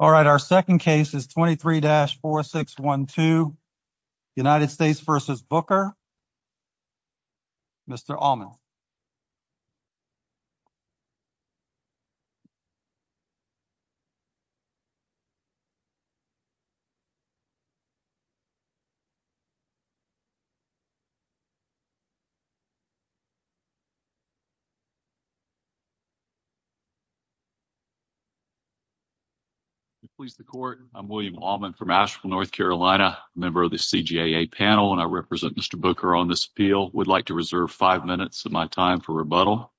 All right, our second case is 23-4612, United States v. Booker. Mr. Allman. I'm William Allman from Asheville, North Carolina, member of the CJA panel, and I represent Mr. Booker on this appeal. Would like to reserve five minutes of my time for rebuttal.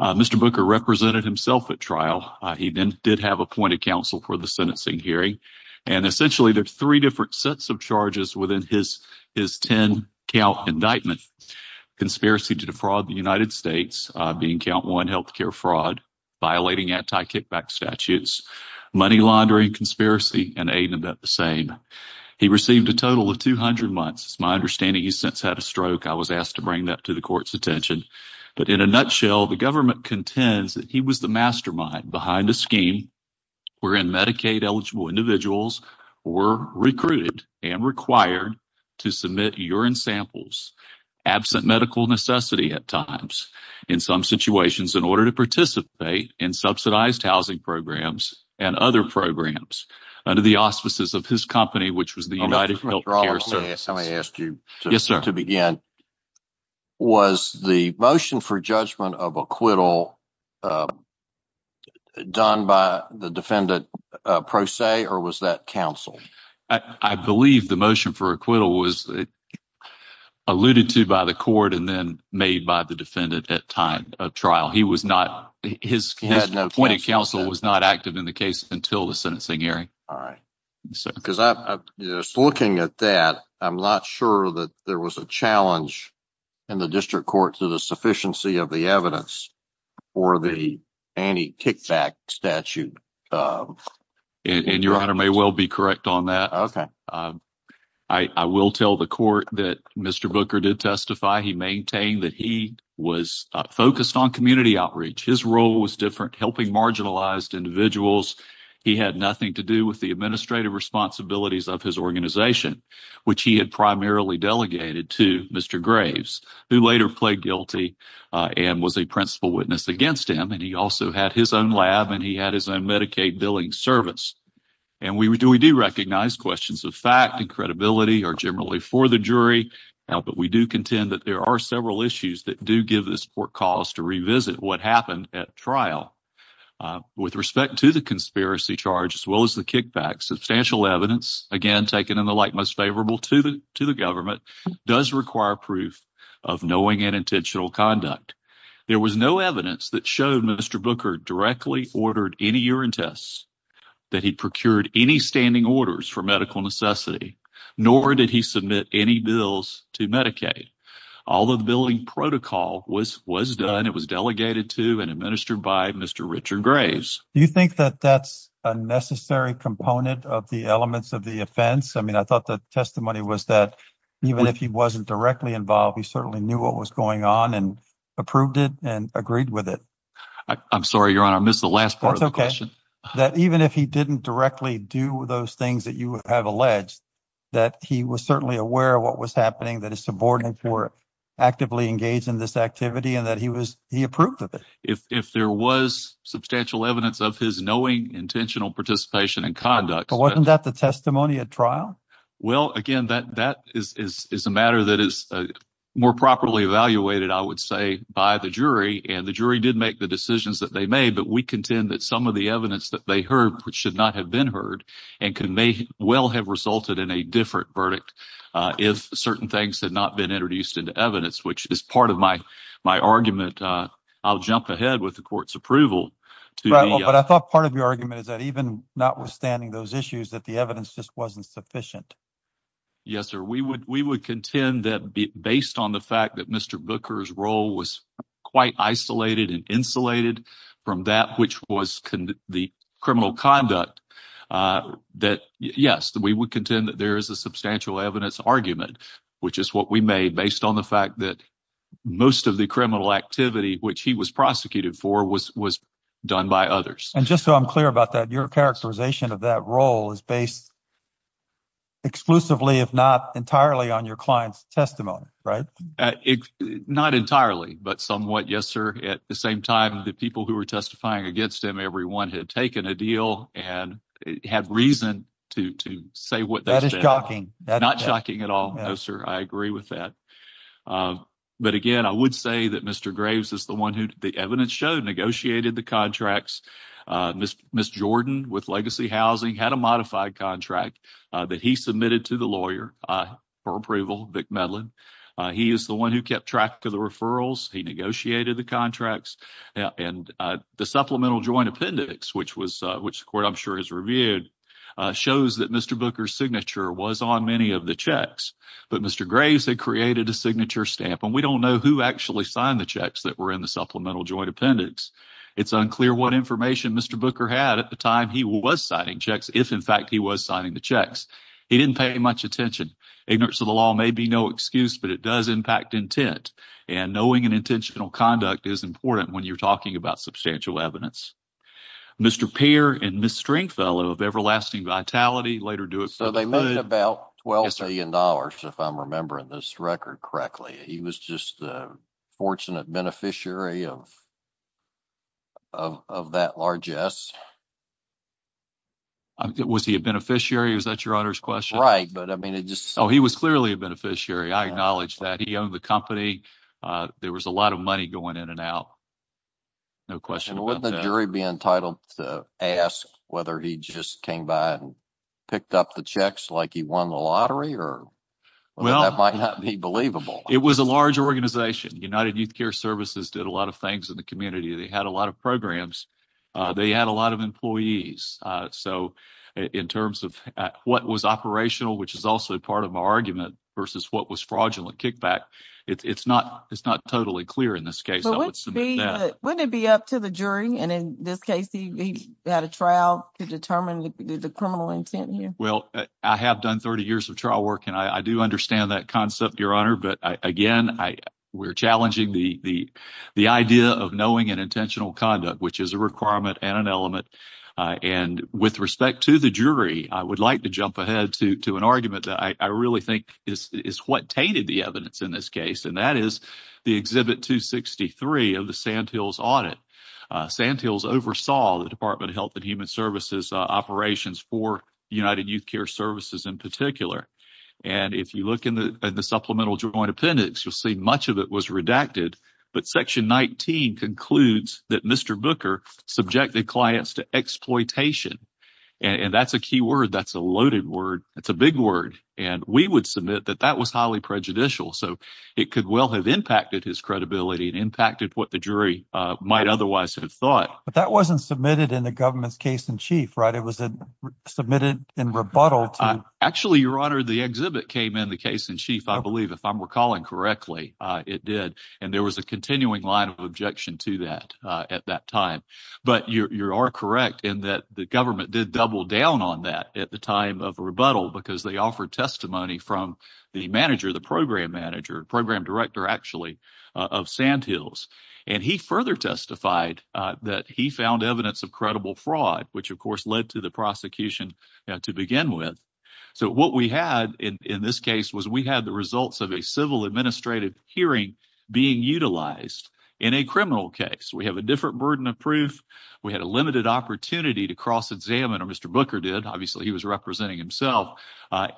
Mr. Booker represented himself at trial. He then did have appointed counsel for the sentencing hearing. And essentially, there are three different sets of charges within his ten-count indictment. Conspiracy to defraud the United States, being count one health care fraud, violating anti-kickback statutes, money laundering conspiracy, and eight of that, the same. He received a total of 200 months. It's my understanding he's since had a stroke. I was asked to bring that to the court's attention. But in a nutshell, the government contends that he was the mastermind behind a scheme wherein Medicaid-eligible individuals were recruited and required to submit urine samples, absent medical necessity at times, in some situations, in order to participate in subsidized housing programs and other programs under the auspices of his company, which was the United Health Care Service. Yes, sir. To begin, was the motion for judgment of acquittal done by the defendant pro se, or was that counsel? I believe the motion for acquittal was alluded to by the court and then made by the defendant at time of trial. He was not – his appointed counsel was not active in the case until the sentencing hearing. All right. Because looking at that, I'm not sure that there was a challenge in the district court to the sufficiency of the evidence for the anti-kickback statute. And Your Honor may well be correct on that. I will tell the court that Mr. Booker did testify. He maintained that he was focused on community outreach. His role was different, helping marginalized individuals. He had nothing to do with the administrative responsibilities of his organization, which he had primarily delegated to Mr. Graves, who later pled guilty and was a principal witness against him. And he also had his own lab and he had his own Medicaid billing service. And we do recognize questions of fact and credibility are generally for the jury. But we do contend that there are several issues that do give this court cause to revisit what happened at trial. With respect to the conspiracy charge as well as the kickback, substantial evidence, again, taken in the light most favorable to the government, does require proof of knowing and intentional conduct. There was no evidence that showed Mr. Booker directly ordered any urine tests, that he procured any standing orders for medical necessity, nor did he submit any bills to Medicaid. All the billing protocol was done. It was delegated to and administered by Mr. Richard Graves. Do you think that that's a necessary component of the elements of the offense? I mean, I thought the testimony was that even if he wasn't directly involved, he certainly knew what was going on and approved it and agreed with it. I'm sorry, Your Honor, I missed the last part of the question. That even if he didn't directly do those things that you have alleged, that he was certainly aware of what was happening, that his subordinates were actively engaged in this activity and that he was he approved of it. If there was substantial evidence of his knowing, intentional participation and conduct. Wasn't that the testimony at trial? Well, again, that is a matter that is more properly evaluated, I would say, by the jury. And the jury did make the decisions that they made. But we contend that some of the evidence that they heard should not have been heard and could may well have resulted in a different verdict if certain things had not been introduced into evidence, which is part of my argument. I'll jump ahead with the court's approval. But I thought part of your argument is that even notwithstanding those issues, that the evidence just wasn't sufficient. Yes, sir. We would we would contend that based on the fact that Mr. Booker's role was quite isolated and insulated from that, which was the criminal conduct that. Yes, we would contend that there is a substantial evidence argument, which is what we made based on the fact that most of the criminal activity which he was prosecuted for was was done by others. And just so I'm clear about that, your characterization of that role is based. Exclusively, if not entirely on your client's testimony, right? Not entirely, but somewhat. Yes, sir. At the same time, the people who were testifying against him, everyone had taken a deal and had reason to to say what that is shocking, not shocking at all. Sir, I agree with that. But again, I would say that Mr. Graves is the one who the evidence showed negotiated the contracts. Miss Miss Jordan with Legacy Housing had a modified contract that he submitted to the lawyer for approval. McMillan, he is the one who kept track of the referrals. He negotiated the contracts and the supplemental joint appendix, which was which the court, I'm sure, has reviewed shows that Mr. Booker's signature was on many of the checks. But Mr. Graves had created a signature stamp and we don't know who actually signed the checks that were in the supplemental joint appendix. It's unclear what information Mr. Booker had at the time he was signing checks. If, in fact, he was signing the checks, he didn't pay much attention. Ignorance of the law may be no excuse, but it does impact intent. And knowing an intentional conduct is important when you're talking about substantial evidence. Mr. Peer and Miss Stringfellow of Everlasting Vitality later do it. So they made about 12 billion dollars. If I'm remembering this record correctly, he was just a fortunate beneficiary of. Of of that largess. Was he a beneficiary? Is that your honor's question? Right. But I mean, it just so he was clearly a beneficiary. I acknowledge that he owned the company. There was a lot of money going in and out. No question. Would the jury be entitled to ask whether he just came by and picked up the checks like he won the lottery or. Well, that might not be believable. It was a large organization. United Youth Care Services did a lot of things in the community. They had a lot of programs. They had a lot of employees. So in terms of what was operational, which is also part of my argument versus what was fraudulent kickback. It's not it's not totally clear in this case. But wouldn't it be up to the jury? And in this case, he had a trial to determine the criminal intent. Well, I have done 30 years of trial work and I do understand that concept, Your Honor. But again, I we're challenging the the the idea of knowing an intentional conduct, which is a requirement and an element. And with respect to the jury, I would like to jump ahead to to an argument that I really think is what tainted the evidence in this case. And that is the exhibit to 63 of the Sandhills audit. Sandhills oversaw the Department of Health and Human Services operations for United Youth Care Services in particular. And if you look in the supplemental joint appendix, you'll see much of it was redacted. But Section 19 concludes that Mr. Booker subjected clients to exploitation. And that's a key word. That's a loaded word. That's a big word. And we would submit that that was highly prejudicial. So it could well have impacted his credibility and impacted what the jury might otherwise have thought. But that wasn't submitted in the government's case in chief. Right. It was submitted in rebuttal. Actually, Your Honor, the exhibit came in the case in chief, I believe, if I'm recalling correctly. It did. And there was a continuing line of objection to that at that time. But you are correct in that the government did double down on that at the time of rebuttal because they offered testimony from the manager, the program manager, program director, actually, of Sandhills. And he further testified that he found evidence of credible fraud, which, of course, led to the prosecution to begin with. So what we had in this case was we had the results of a civil administrative hearing being utilized in a criminal case. We have a different burden of proof. We had a limited opportunity to cross examine. Or Mr. Booker did. Obviously, he was representing himself.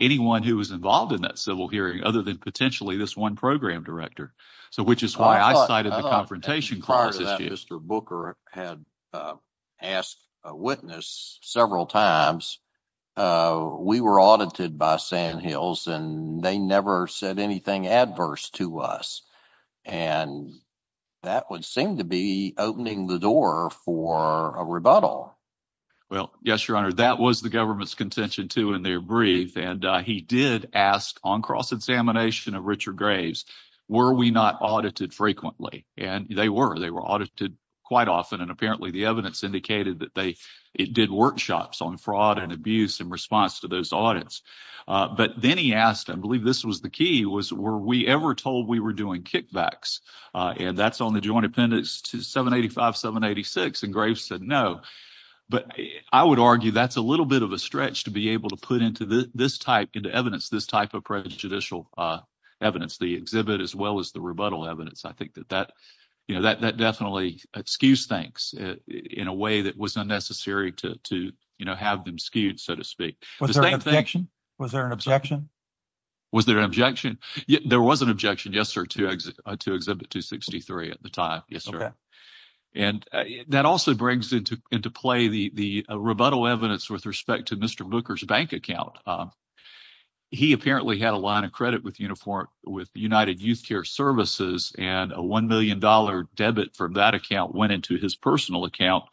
Anyone who was involved in that civil hearing other than potentially this one program director. So which is why I cited the confrontation prior to that. Mr. Booker had asked a witness several times. We were audited by Sandhills and they never said anything adverse to us. And that would seem to be opening the door for a rebuttal. Well, yes, Your Honor, that was the government's contention to in their brief. And he did ask on cross examination of Richard Graves, were we not audited frequently? And they were. They were audited quite often. And apparently the evidence indicated that they did workshops on fraud and abuse in response to those audits. But then he asked, I believe this was the key, was were we ever told we were doing kickbacks? And that's on the joint appendix to 785, 786. And Graves said no. But I would argue that's a little bit of a stretch to be able to put into this type into evidence, this type of prejudicial evidence, the exhibit as well as the rebuttal evidence. I think that that, you know, that that definitely skews things in a way that was unnecessary to, you know, have them skewed, so to speak. Was there an objection? Was there an objection? Was there an objection? There was an objection, yes, sir, to exhibit 263 at the time. Yes, sir. And that also brings into play the rebuttal evidence with respect to Mr. Booker's bank account. He apparently had a line of credit with uniform with United Youth Care Services and a one million dollar debit for that account went into his personal account.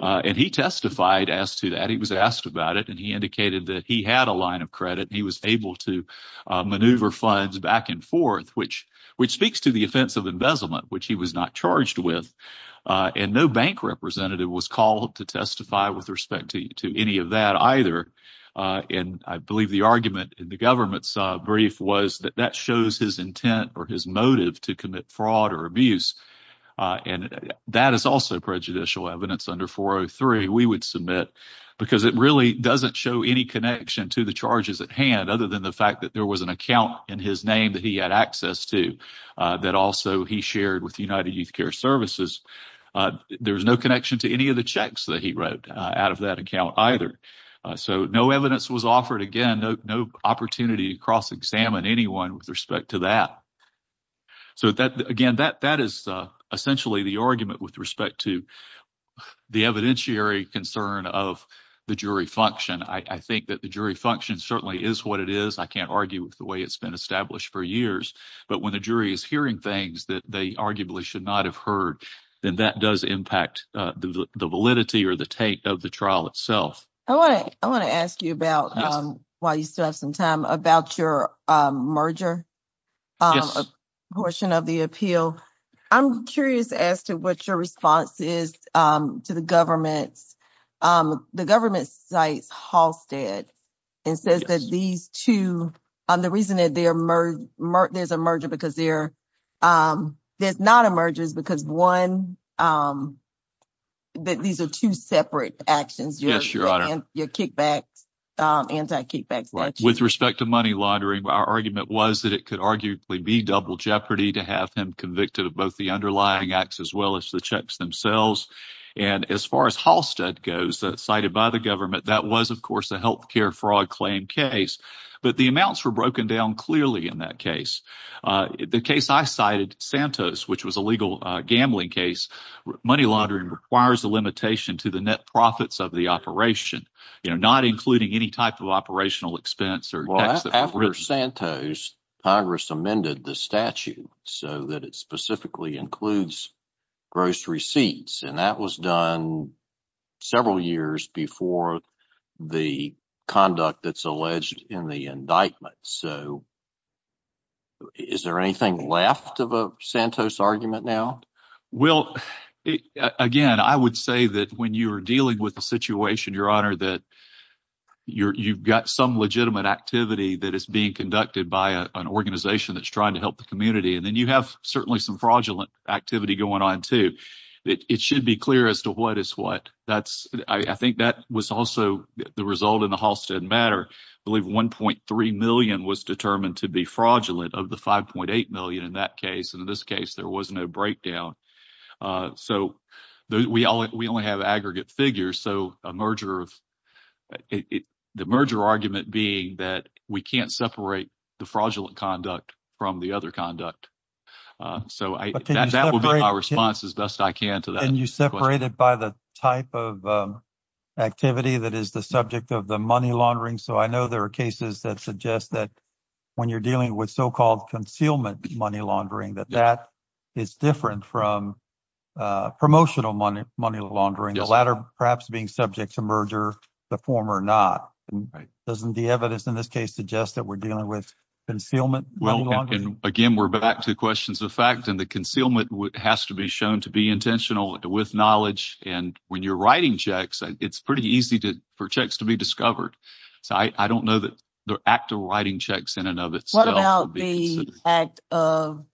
And he testified as to that. He was asked about it and he indicated that he had a line of credit. He was able to maneuver funds back and forth, which which speaks to the offense of embezzlement, which he was not charged with. And no bank representative was called to testify with respect to any of that either. And I believe the argument in the government's brief was that that shows his intent or his motive to commit fraud or abuse. And that is also prejudicial evidence under 403 we would submit because it really doesn't show any connection to the charges at hand, other than the fact that there was an account in his name that he had access to that also he shared with United Youth Care Services. There was no connection to any of the checks that he wrote out of that account either. So no evidence was offered. Again, no opportunity to cross examine anyone with respect to that. So that again, that that is essentially the argument with respect to the evidentiary concern of the jury function. I think that the jury function certainly is what it is. I can't argue with the way it's been established for years. But when the jury is hearing things that they arguably should not have heard, then that does impact the validity or the take of the trial itself. I want to I want to ask you about why you still have some time about your merger portion of the appeal. I'm curious as to what your response is to the government. The government sites Halstead and says that these two are the reason that they are there's a merger because they're there's not emerges because one. That these are two separate actions. Yes, your honor. Your kickbacks anti kickbacks with respect to money laundering. Our argument was that it could arguably be double jeopardy to have him convicted of both the underlying acts as well as the checks themselves. And as far as Halstead goes, that's cited by the government. That was, of course, a health care fraud claim case. But the amounts were broken down clearly in that case. The case I cited, Santos, which was a legal gambling case, money laundering requires a limitation to the net profits of the operation, not including any type of operational expense or. After Santos, Congress amended the statute so that it specifically includes gross receipts. And that was done several years before the conduct that's alleged in the indictment. So. Is there anything left of a Santos argument now? Well, again, I would say that when you are dealing with the situation, your honor, that you've got some legitimate activity that is being conducted by an organization that's trying to help the community. And then you have certainly some fraudulent activity going on, too. It should be clear as to what is what. That's I think that was also the result in the Halstead matter. Believe one point three million was determined to be fraudulent of the five point eight million in that case. And in this case, there was no breakdown. So we all we only have aggregate figures. So a merger of the merger argument being that we can't separate the fraudulent conduct from the other conduct. So that's our response as best I can to that. And you separate it by the type of activity that is the subject of the money laundering. So I know there are cases that suggest that when you're dealing with so-called concealment money laundering, that that is different from promotional money, money laundering. The latter perhaps being subject to merger the former not. And doesn't the evidence in this case suggest that we're dealing with concealment? Well, again, we're back to questions of fact and the concealment has to be shown to be intentional with knowledge. And when you're writing checks, it's pretty easy to for checks to be discovered. So I don't know that the act of writing checks in and of itself. What about the act of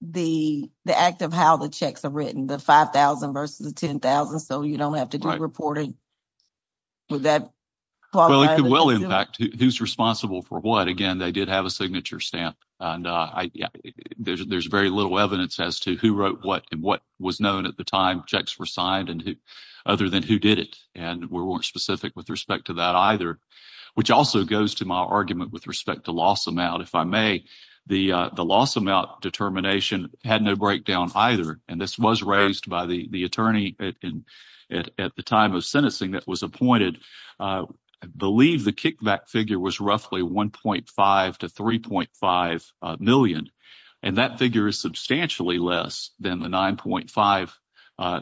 the the act of how the checks are written? The five thousand versus the ten thousand. So you don't have to do reporting. Well, it could well impact who's responsible for what. Again, they did have a signature stamp and there's very little evidence as to who wrote what and what was known at the time checks were signed and other than who did it. And we weren't specific with respect to that either, which also goes to my argument with respect to loss amount. If I may, the the loss amount determination had no breakdown either. And this was raised by the attorney at the time of sentencing that was appointed. I believe the kickback figure was roughly one point five to three point five million. And that figure is substantially less than the nine point five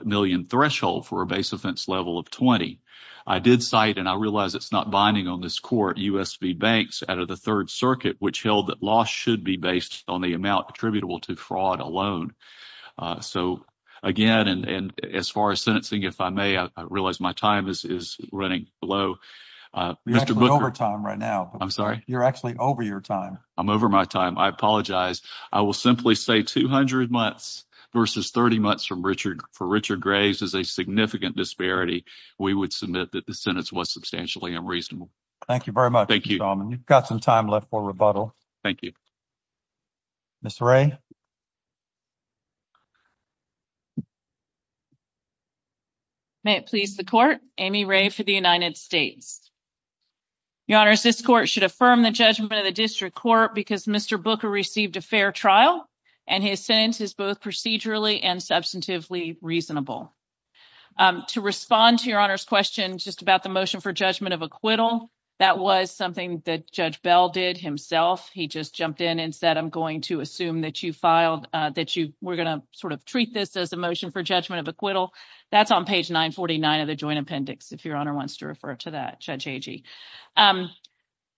million threshold for a base offense level of 20. I did cite and I realize it's not binding on this court. out of the Third Circuit, which held that loss should be based on the amount attributable to fraud alone. So, again, and as far as sentencing, if I may, I realize my time is running low over time right now. I'm sorry. You're actually over your time. I'm over my time. I apologize. I will simply say 200 months versus 30 months from Richard for Richard Graves is a significant disparity. We would submit that the sentence was substantially unreasonable. Thank you very much. Thank you. You've got some time left for rebuttal. Thank you. Mr. Ray. May it please the court. Amy Ray for the United States. Your Honor, this court should affirm the judgment of the district court because Mr. Booker received a fair trial and his sentence is both procedurally and substantively reasonable. To respond to your honor's question just about the motion for judgment of acquittal. That was something that Judge Bell did himself. He just jumped in and said, I'm going to assume that you filed that you were going to sort of treat this as a motion for judgment of acquittal. That's on page 949 of the joint appendix. If your honor wants to refer to that, Judge Agee.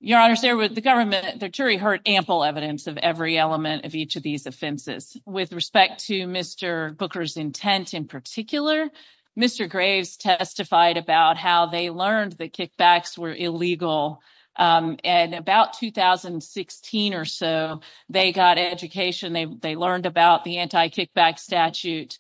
Your honor's there with the government. The jury heard ample evidence of every element of each of these offenses. With respect to Mr. Booker's intent in particular, Mr. Graves testified about how they learned that kickbacks were illegal. And about 2016 or so, they got education. They learned about the anti kickback statute.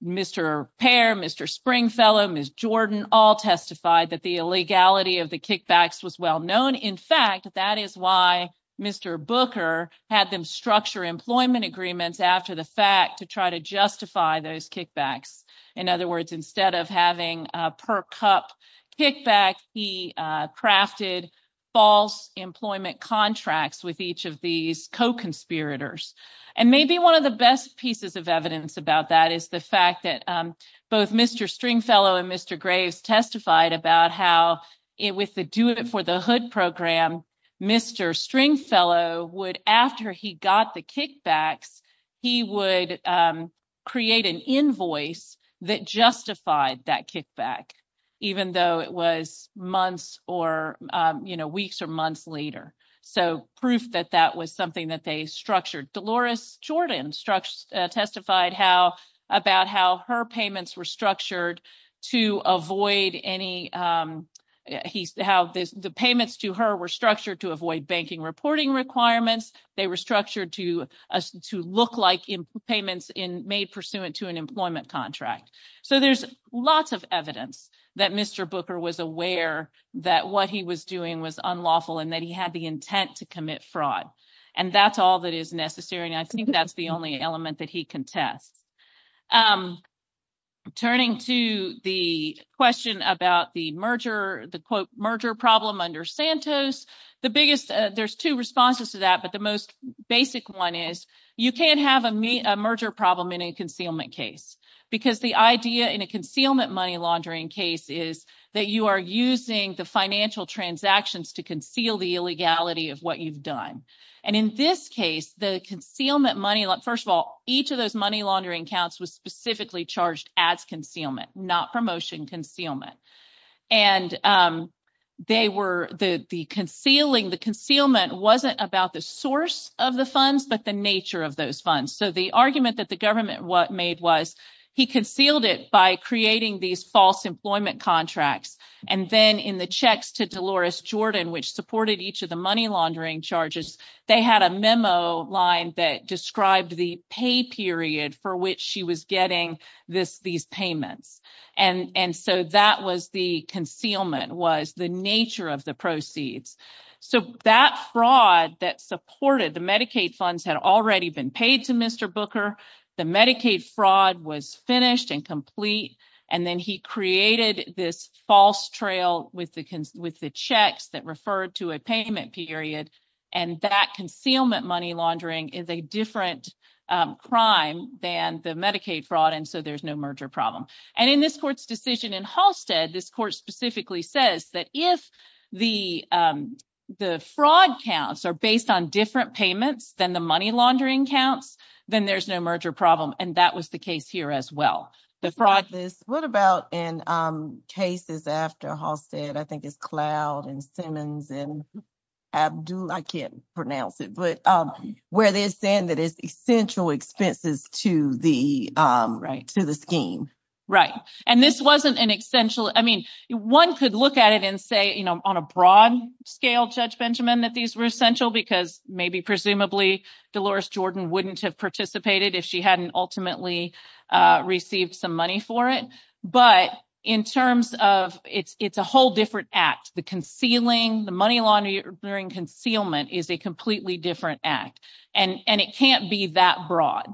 Mr. Pair, Mr. Springfellow, Miss Jordan, all testified that the illegality of the kickbacks was well known. In fact, that is why Mr. Booker had them structure employment agreements after the fact to try to justify those kickbacks. In other words, instead of having a per cup kickback, he crafted false employment contracts with each of these co-conspirators. And maybe one of the best pieces of evidence about that is the fact that both Mr. Springfellow and Mr. Graves testified about how it with the do it for the hood program. Mr. Springfellow would after he got the kickbacks, he would create an invoice that justified that kickback, even though it was months or weeks or months later. Proof that that was something that they structured. Dolores Jordan testified about how her payments were structured to avoid banking reporting requirements. They were structured to look like payments made pursuant to an employment contract. So there's lots of evidence that Mr. Booker was aware that what he was doing was unlawful and that he had the intent to commit fraud. And that's all that is necessary. And I think that's the only element that he contests. Turning to the question about the merger, the merger problem under Santos, the biggest there's two responses to that. But the most basic one is you can't have a merger problem in a concealment case because the idea in a concealment money laundering case is that you are using the financial transactions to conceal the illegality of what you've done. And in this case, the concealment money, first of all, each of those money laundering counts was specifically charged as concealment, not promotion concealment. And the concealment wasn't about the source of the funds, but the nature of those funds. So the argument that the government made was he concealed it by creating these false employment contracts. And then in the checks to Dolores Jordan, which supported each of the money laundering charges, they had a memo line that described the pay period for which she was getting these payments. And and so that was the concealment was the nature of the proceeds. So that fraud that supported the Medicaid funds had already been paid to Mr. Booker. The Medicaid fraud was finished and complete. And then he created this false trail with the with the checks that referred to a payment period. And that concealment money laundering is a different crime than the Medicaid fraud. And so there's no merger problem. And in this court's decision in Halstead, this court specifically says that if the the fraud counts are based on different payments than the money laundering counts, then there's no merger problem. And that was the case here as well. What about in cases after Halstead, I think it's Cloud and Simmons and Abdul, I can't pronounce it, but where they're saying that it's essential expenses to the scheme. Right. And this wasn't an essential. I mean, one could look at it and say, you know, on a broad scale, Judge Benjamin, that these were essential because maybe presumably Dolores Jordan wouldn't have participated if she hadn't ultimately received some money for it. But in terms of it's it's a whole different act. The concealing the money laundering concealment is a completely different act. And and it can't be that broad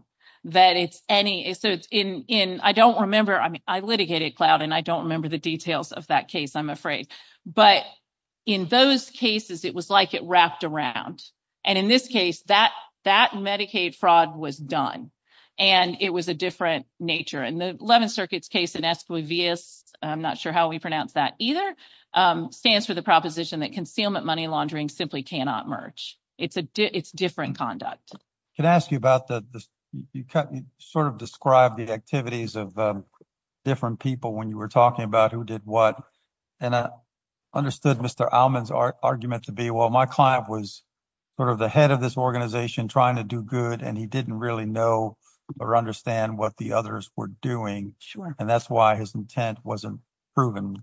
that it's any. So it's in in I don't remember. I mean, I litigated cloud and I don't remember the details of that case, I'm afraid. But in those cases, it was like it wrapped around. And in this case, that that Medicaid fraud was done and it was a different nature. And the 11th Circuit's case in Esquivias, I'm not sure how we pronounce that either, stands for the proposition that concealment money laundering simply cannot merge. It's a it's different conduct. Can I ask you about the sort of describe the activities of different people when you were talking about who did what? And I understood Mr. Allman's argument to be, well, my client was sort of the head of this organization trying to do good, and he didn't really know or understand what the others were doing. Sure. And that's why his intent wasn't proven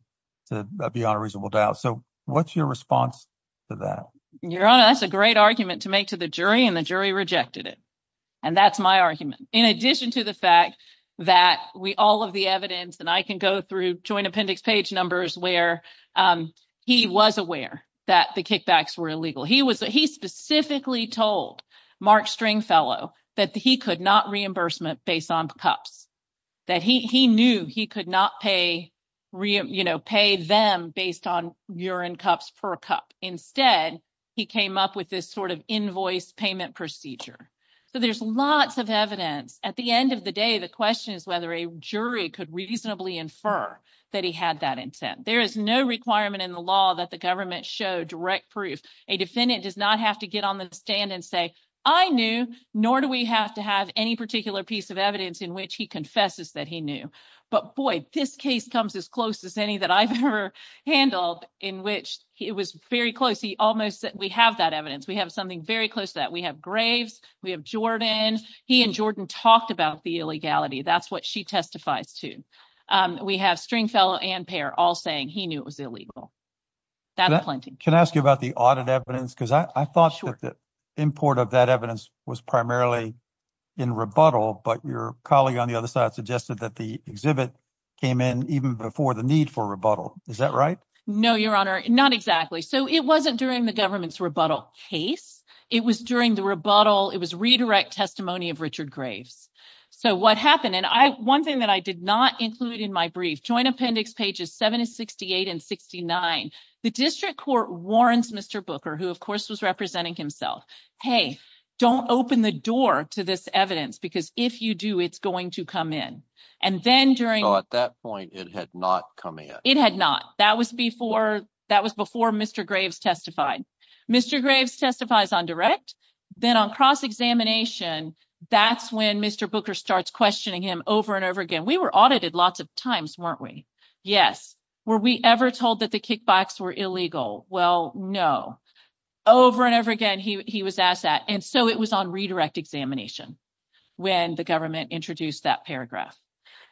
to be on a reasonable doubt. So what's your response to that? Your Honor, that's a great argument to make to the jury and the jury rejected it. And that's my argument. In addition to the fact that we all of the evidence and I can go through joint appendix page numbers where he was aware that the kickbacks were illegal. He was he specifically told Mark Stringfellow that he could not reimbursement based on cups, that he knew he could not pay, you know, pay them based on urine cups per cup. Instead, he came up with this sort of invoice payment procedure. So there's lots of evidence. At the end of the day, the question is whether a jury could reasonably infer that he had that intent. There is no requirement in the law that the government show direct proof. A defendant does not have to get on the stand and say, I knew, nor do we have to have any particular piece of evidence in which he confesses that he knew. But boy, this case comes as close as any that I've ever handled in which it was very close. He almost said we have that evidence. We have something very close to that. We have Graves. We have Jordan. He and Jordan talked about the illegality. That's what she testifies to. We have Stringfellow and Payer all saying he knew it was illegal. That's plenty. Can I ask you about the audit evidence? Because I thought that the import of that evidence was primarily in rebuttal. But your colleague on the other side suggested that the exhibit came in even before the need for rebuttal. Is that right? No, Your Honor. Not exactly. So it wasn't during the government's rebuttal case. It was during the rebuttal. It was redirect testimony of Richard Graves. So what happened? And one thing that I did not include in my brief, Joint Appendix pages 768 and 69, the district court warns Mr. Booker, who of course was representing himself, hey, don't open the door to this evidence because if you do, it's going to come in. So at that point, it had not come in. It had not. That was before Mr. Graves testified. Mr. Graves testifies on direct. Then on cross-examination, that's when Mr. Booker starts questioning him over and over again. We were audited lots of times, weren't we? Yes. Were we ever told that the kickbacks were illegal? Well, no. Over and over again, he was asked that. And so it was on redirect examination when the government introduced that paragraph.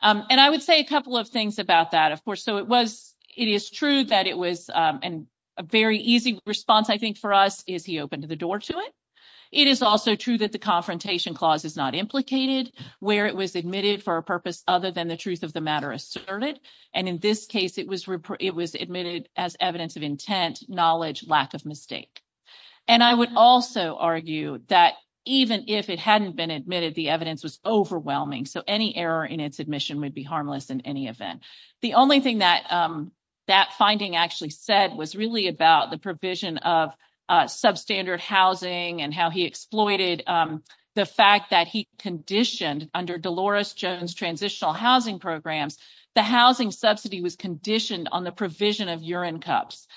And I would say a couple of things about that, of course. So it is true that it was a very easy response, I think, for us is he opened the door to it. It is also true that the confrontation clause is not implicated where it was admitted for a purpose other than the truth of the matter asserted. And in this case, it was it was admitted as evidence of intent, knowledge, lack of mistake. And I would also argue that even if it hadn't been admitted, the evidence was overwhelming. So any error in its admission would be harmless in any event. The only thing that that finding actually said was really about the provision of substandard housing and how he exploited the fact that he conditioned under Dolores Jones transitional housing programs, the housing subsidy was conditioned on the provision of urine cups.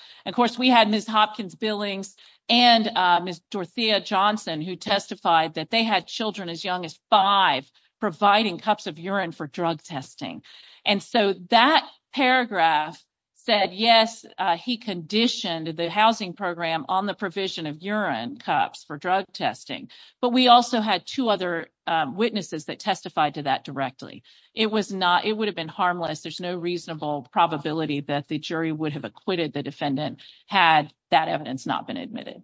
And so that paragraph said, yes, he conditioned the housing program on the provision of urine cups for drug testing. But we also had two other witnesses that testified to that directly. It was not it would have been harmless. There's no reasonable probability that the jury would have acquitted the defendant. Had that evidence not been admitted.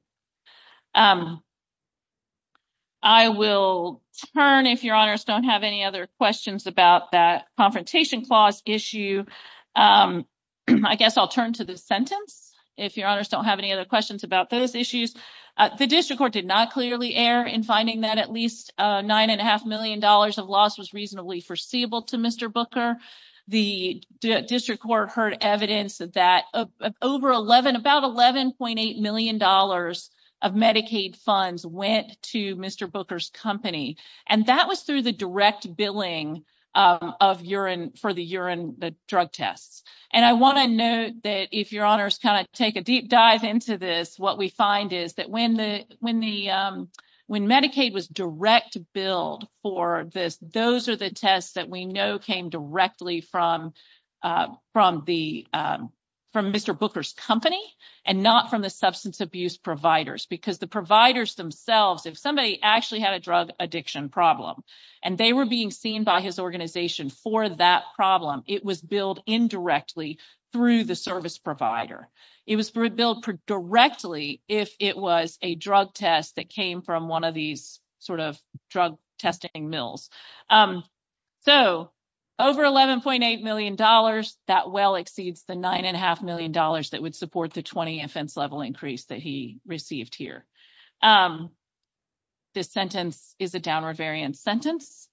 I will turn if your honors don't have any other questions about that confrontation clause issue. I guess I'll turn to the sentence if your honors don't have any other questions about those issues. The district court did not clearly err in finding that at least nine and a half million dollars of loss was reasonably foreseeable to Mr. Booker. The district court heard evidence that over 11, about 11.8 million dollars of Medicaid funds went to Mr. Booker's company. And that was through the direct billing of urine for the urine drug tests. And I want to note that if your honors kind of take a deep dive into this, what we find is that when the when the when Medicaid was direct billed for this, those are the tests that we know came directly from from the from Mr. Booker's company and not from the substance abuse providers because the providers themselves, if somebody actually had a drug addiction problem and they were being seen by his organization for that problem, it was billed indirectly through the service provider. It was billed directly if it was a drug test that came from one of these sort of drug testing mills. So, over 11.8 million dollars that well exceeds the nine and a half million dollars that would support the 20 offense level increase that he received here. This sentence is a downward variant sentence.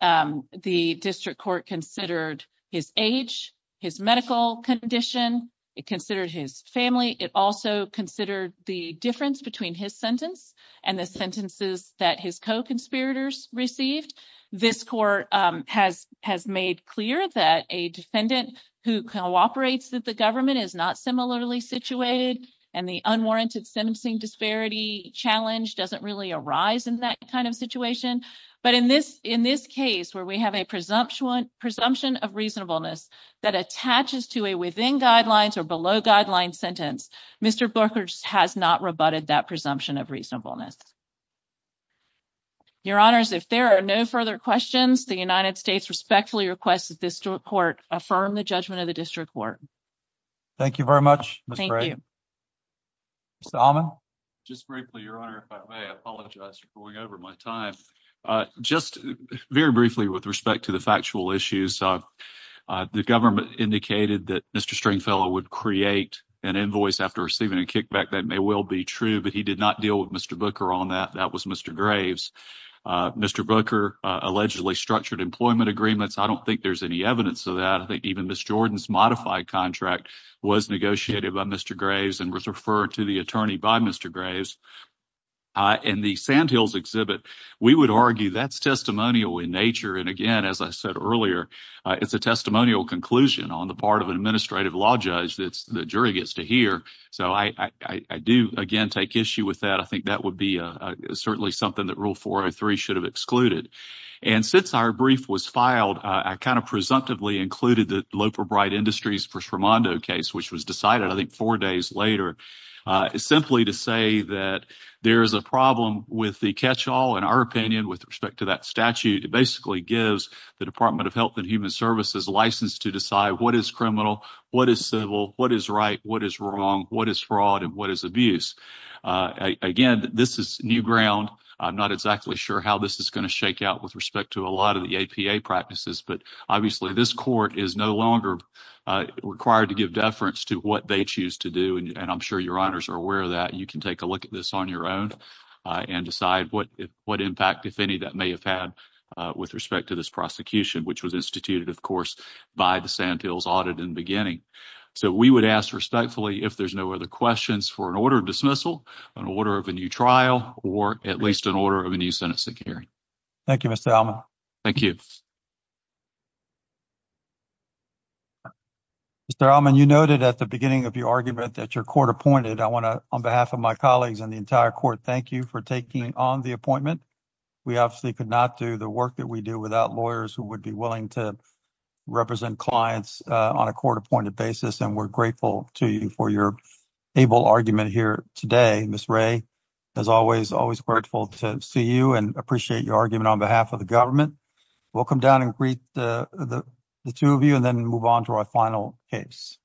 The district court considered his age, his medical condition. It considered his family. It also considered the difference between his sentence and the sentences that his co-conspirators received. This court has has made clear that a defendant who cooperates that the government is not similarly situated and the unwarranted sentencing disparity challenge doesn't really arise in that kind of situation. But in this in this case, where we have a presumption presumption of reasonableness that attaches to a within guidelines or below guideline sentence, Mr. Booker's has not rebutted that presumption of reasonableness. Your honors, if there are no further questions, the United States respectfully request that this court affirm the judgment of the district court. Thank you very much. Solomon, just briefly, your honor, if I may apologize for going over my time just very briefly with respect to the factual issues. The government indicated that Mr. Stringfellow would create an invoice after receiving a kickback. That may well be true, but he did not deal with Mr. Booker on that. That was Mr. Graves. Mr. Booker allegedly structured employment agreements. I don't think there's any evidence of that. I think even Miss Jordan's modified contract was negotiated by Mr. Graves and was referred to the attorney by Mr. Graves. In the Sandhills exhibit, we would argue that's testimonial in nature. And again, as I said earlier, it's a testimonial conclusion on the part of an administrative law judge that the jury gets to hear. So I do, again, take issue with that. I think that would be certainly something that Rule 403 should have excluded. And since our brief was filed, I kind of presumptively included the Loper Bright Industries for Shremondo case, which was decided, I think, four days later, simply to say that there is a problem with the catch-all, in our opinion, with respect to that statute. It basically gives the Department of Health and Human Services license to decide what is criminal, what is civil, what is right, what is wrong, what is fraud, and what is abuse. Again, this is new ground. I'm not exactly sure how this is going to shake out with respect to a lot of the APA practices. But obviously, this court is no longer required to give deference to what they choose to do, and I'm sure your honors are aware of that. You can take a look at this on your own and decide what impact, if any, that may have had with respect to this prosecution, which was instituted, of course, by the Sandhills audit in the beginning. So we would ask respectfully if there's no other questions for an order of dismissal, an order of a new trial, or at least an order of a new Senate hearing. Thank you, Mr. Allman. Mr. Allman, you noted at the beginning of your argument that your court appointed. I want to, on behalf of my colleagues and the entire court, thank you for taking on the appointment. We obviously could not do the work that we do without lawyers who would be willing to represent clients on a court-appointed basis, and we're grateful to you for your able argument here today. Ms. Ray, as always, always grateful to see you and appreciate your argument on behalf of the government. We'll come down and greet the two of you and then move on to our final case.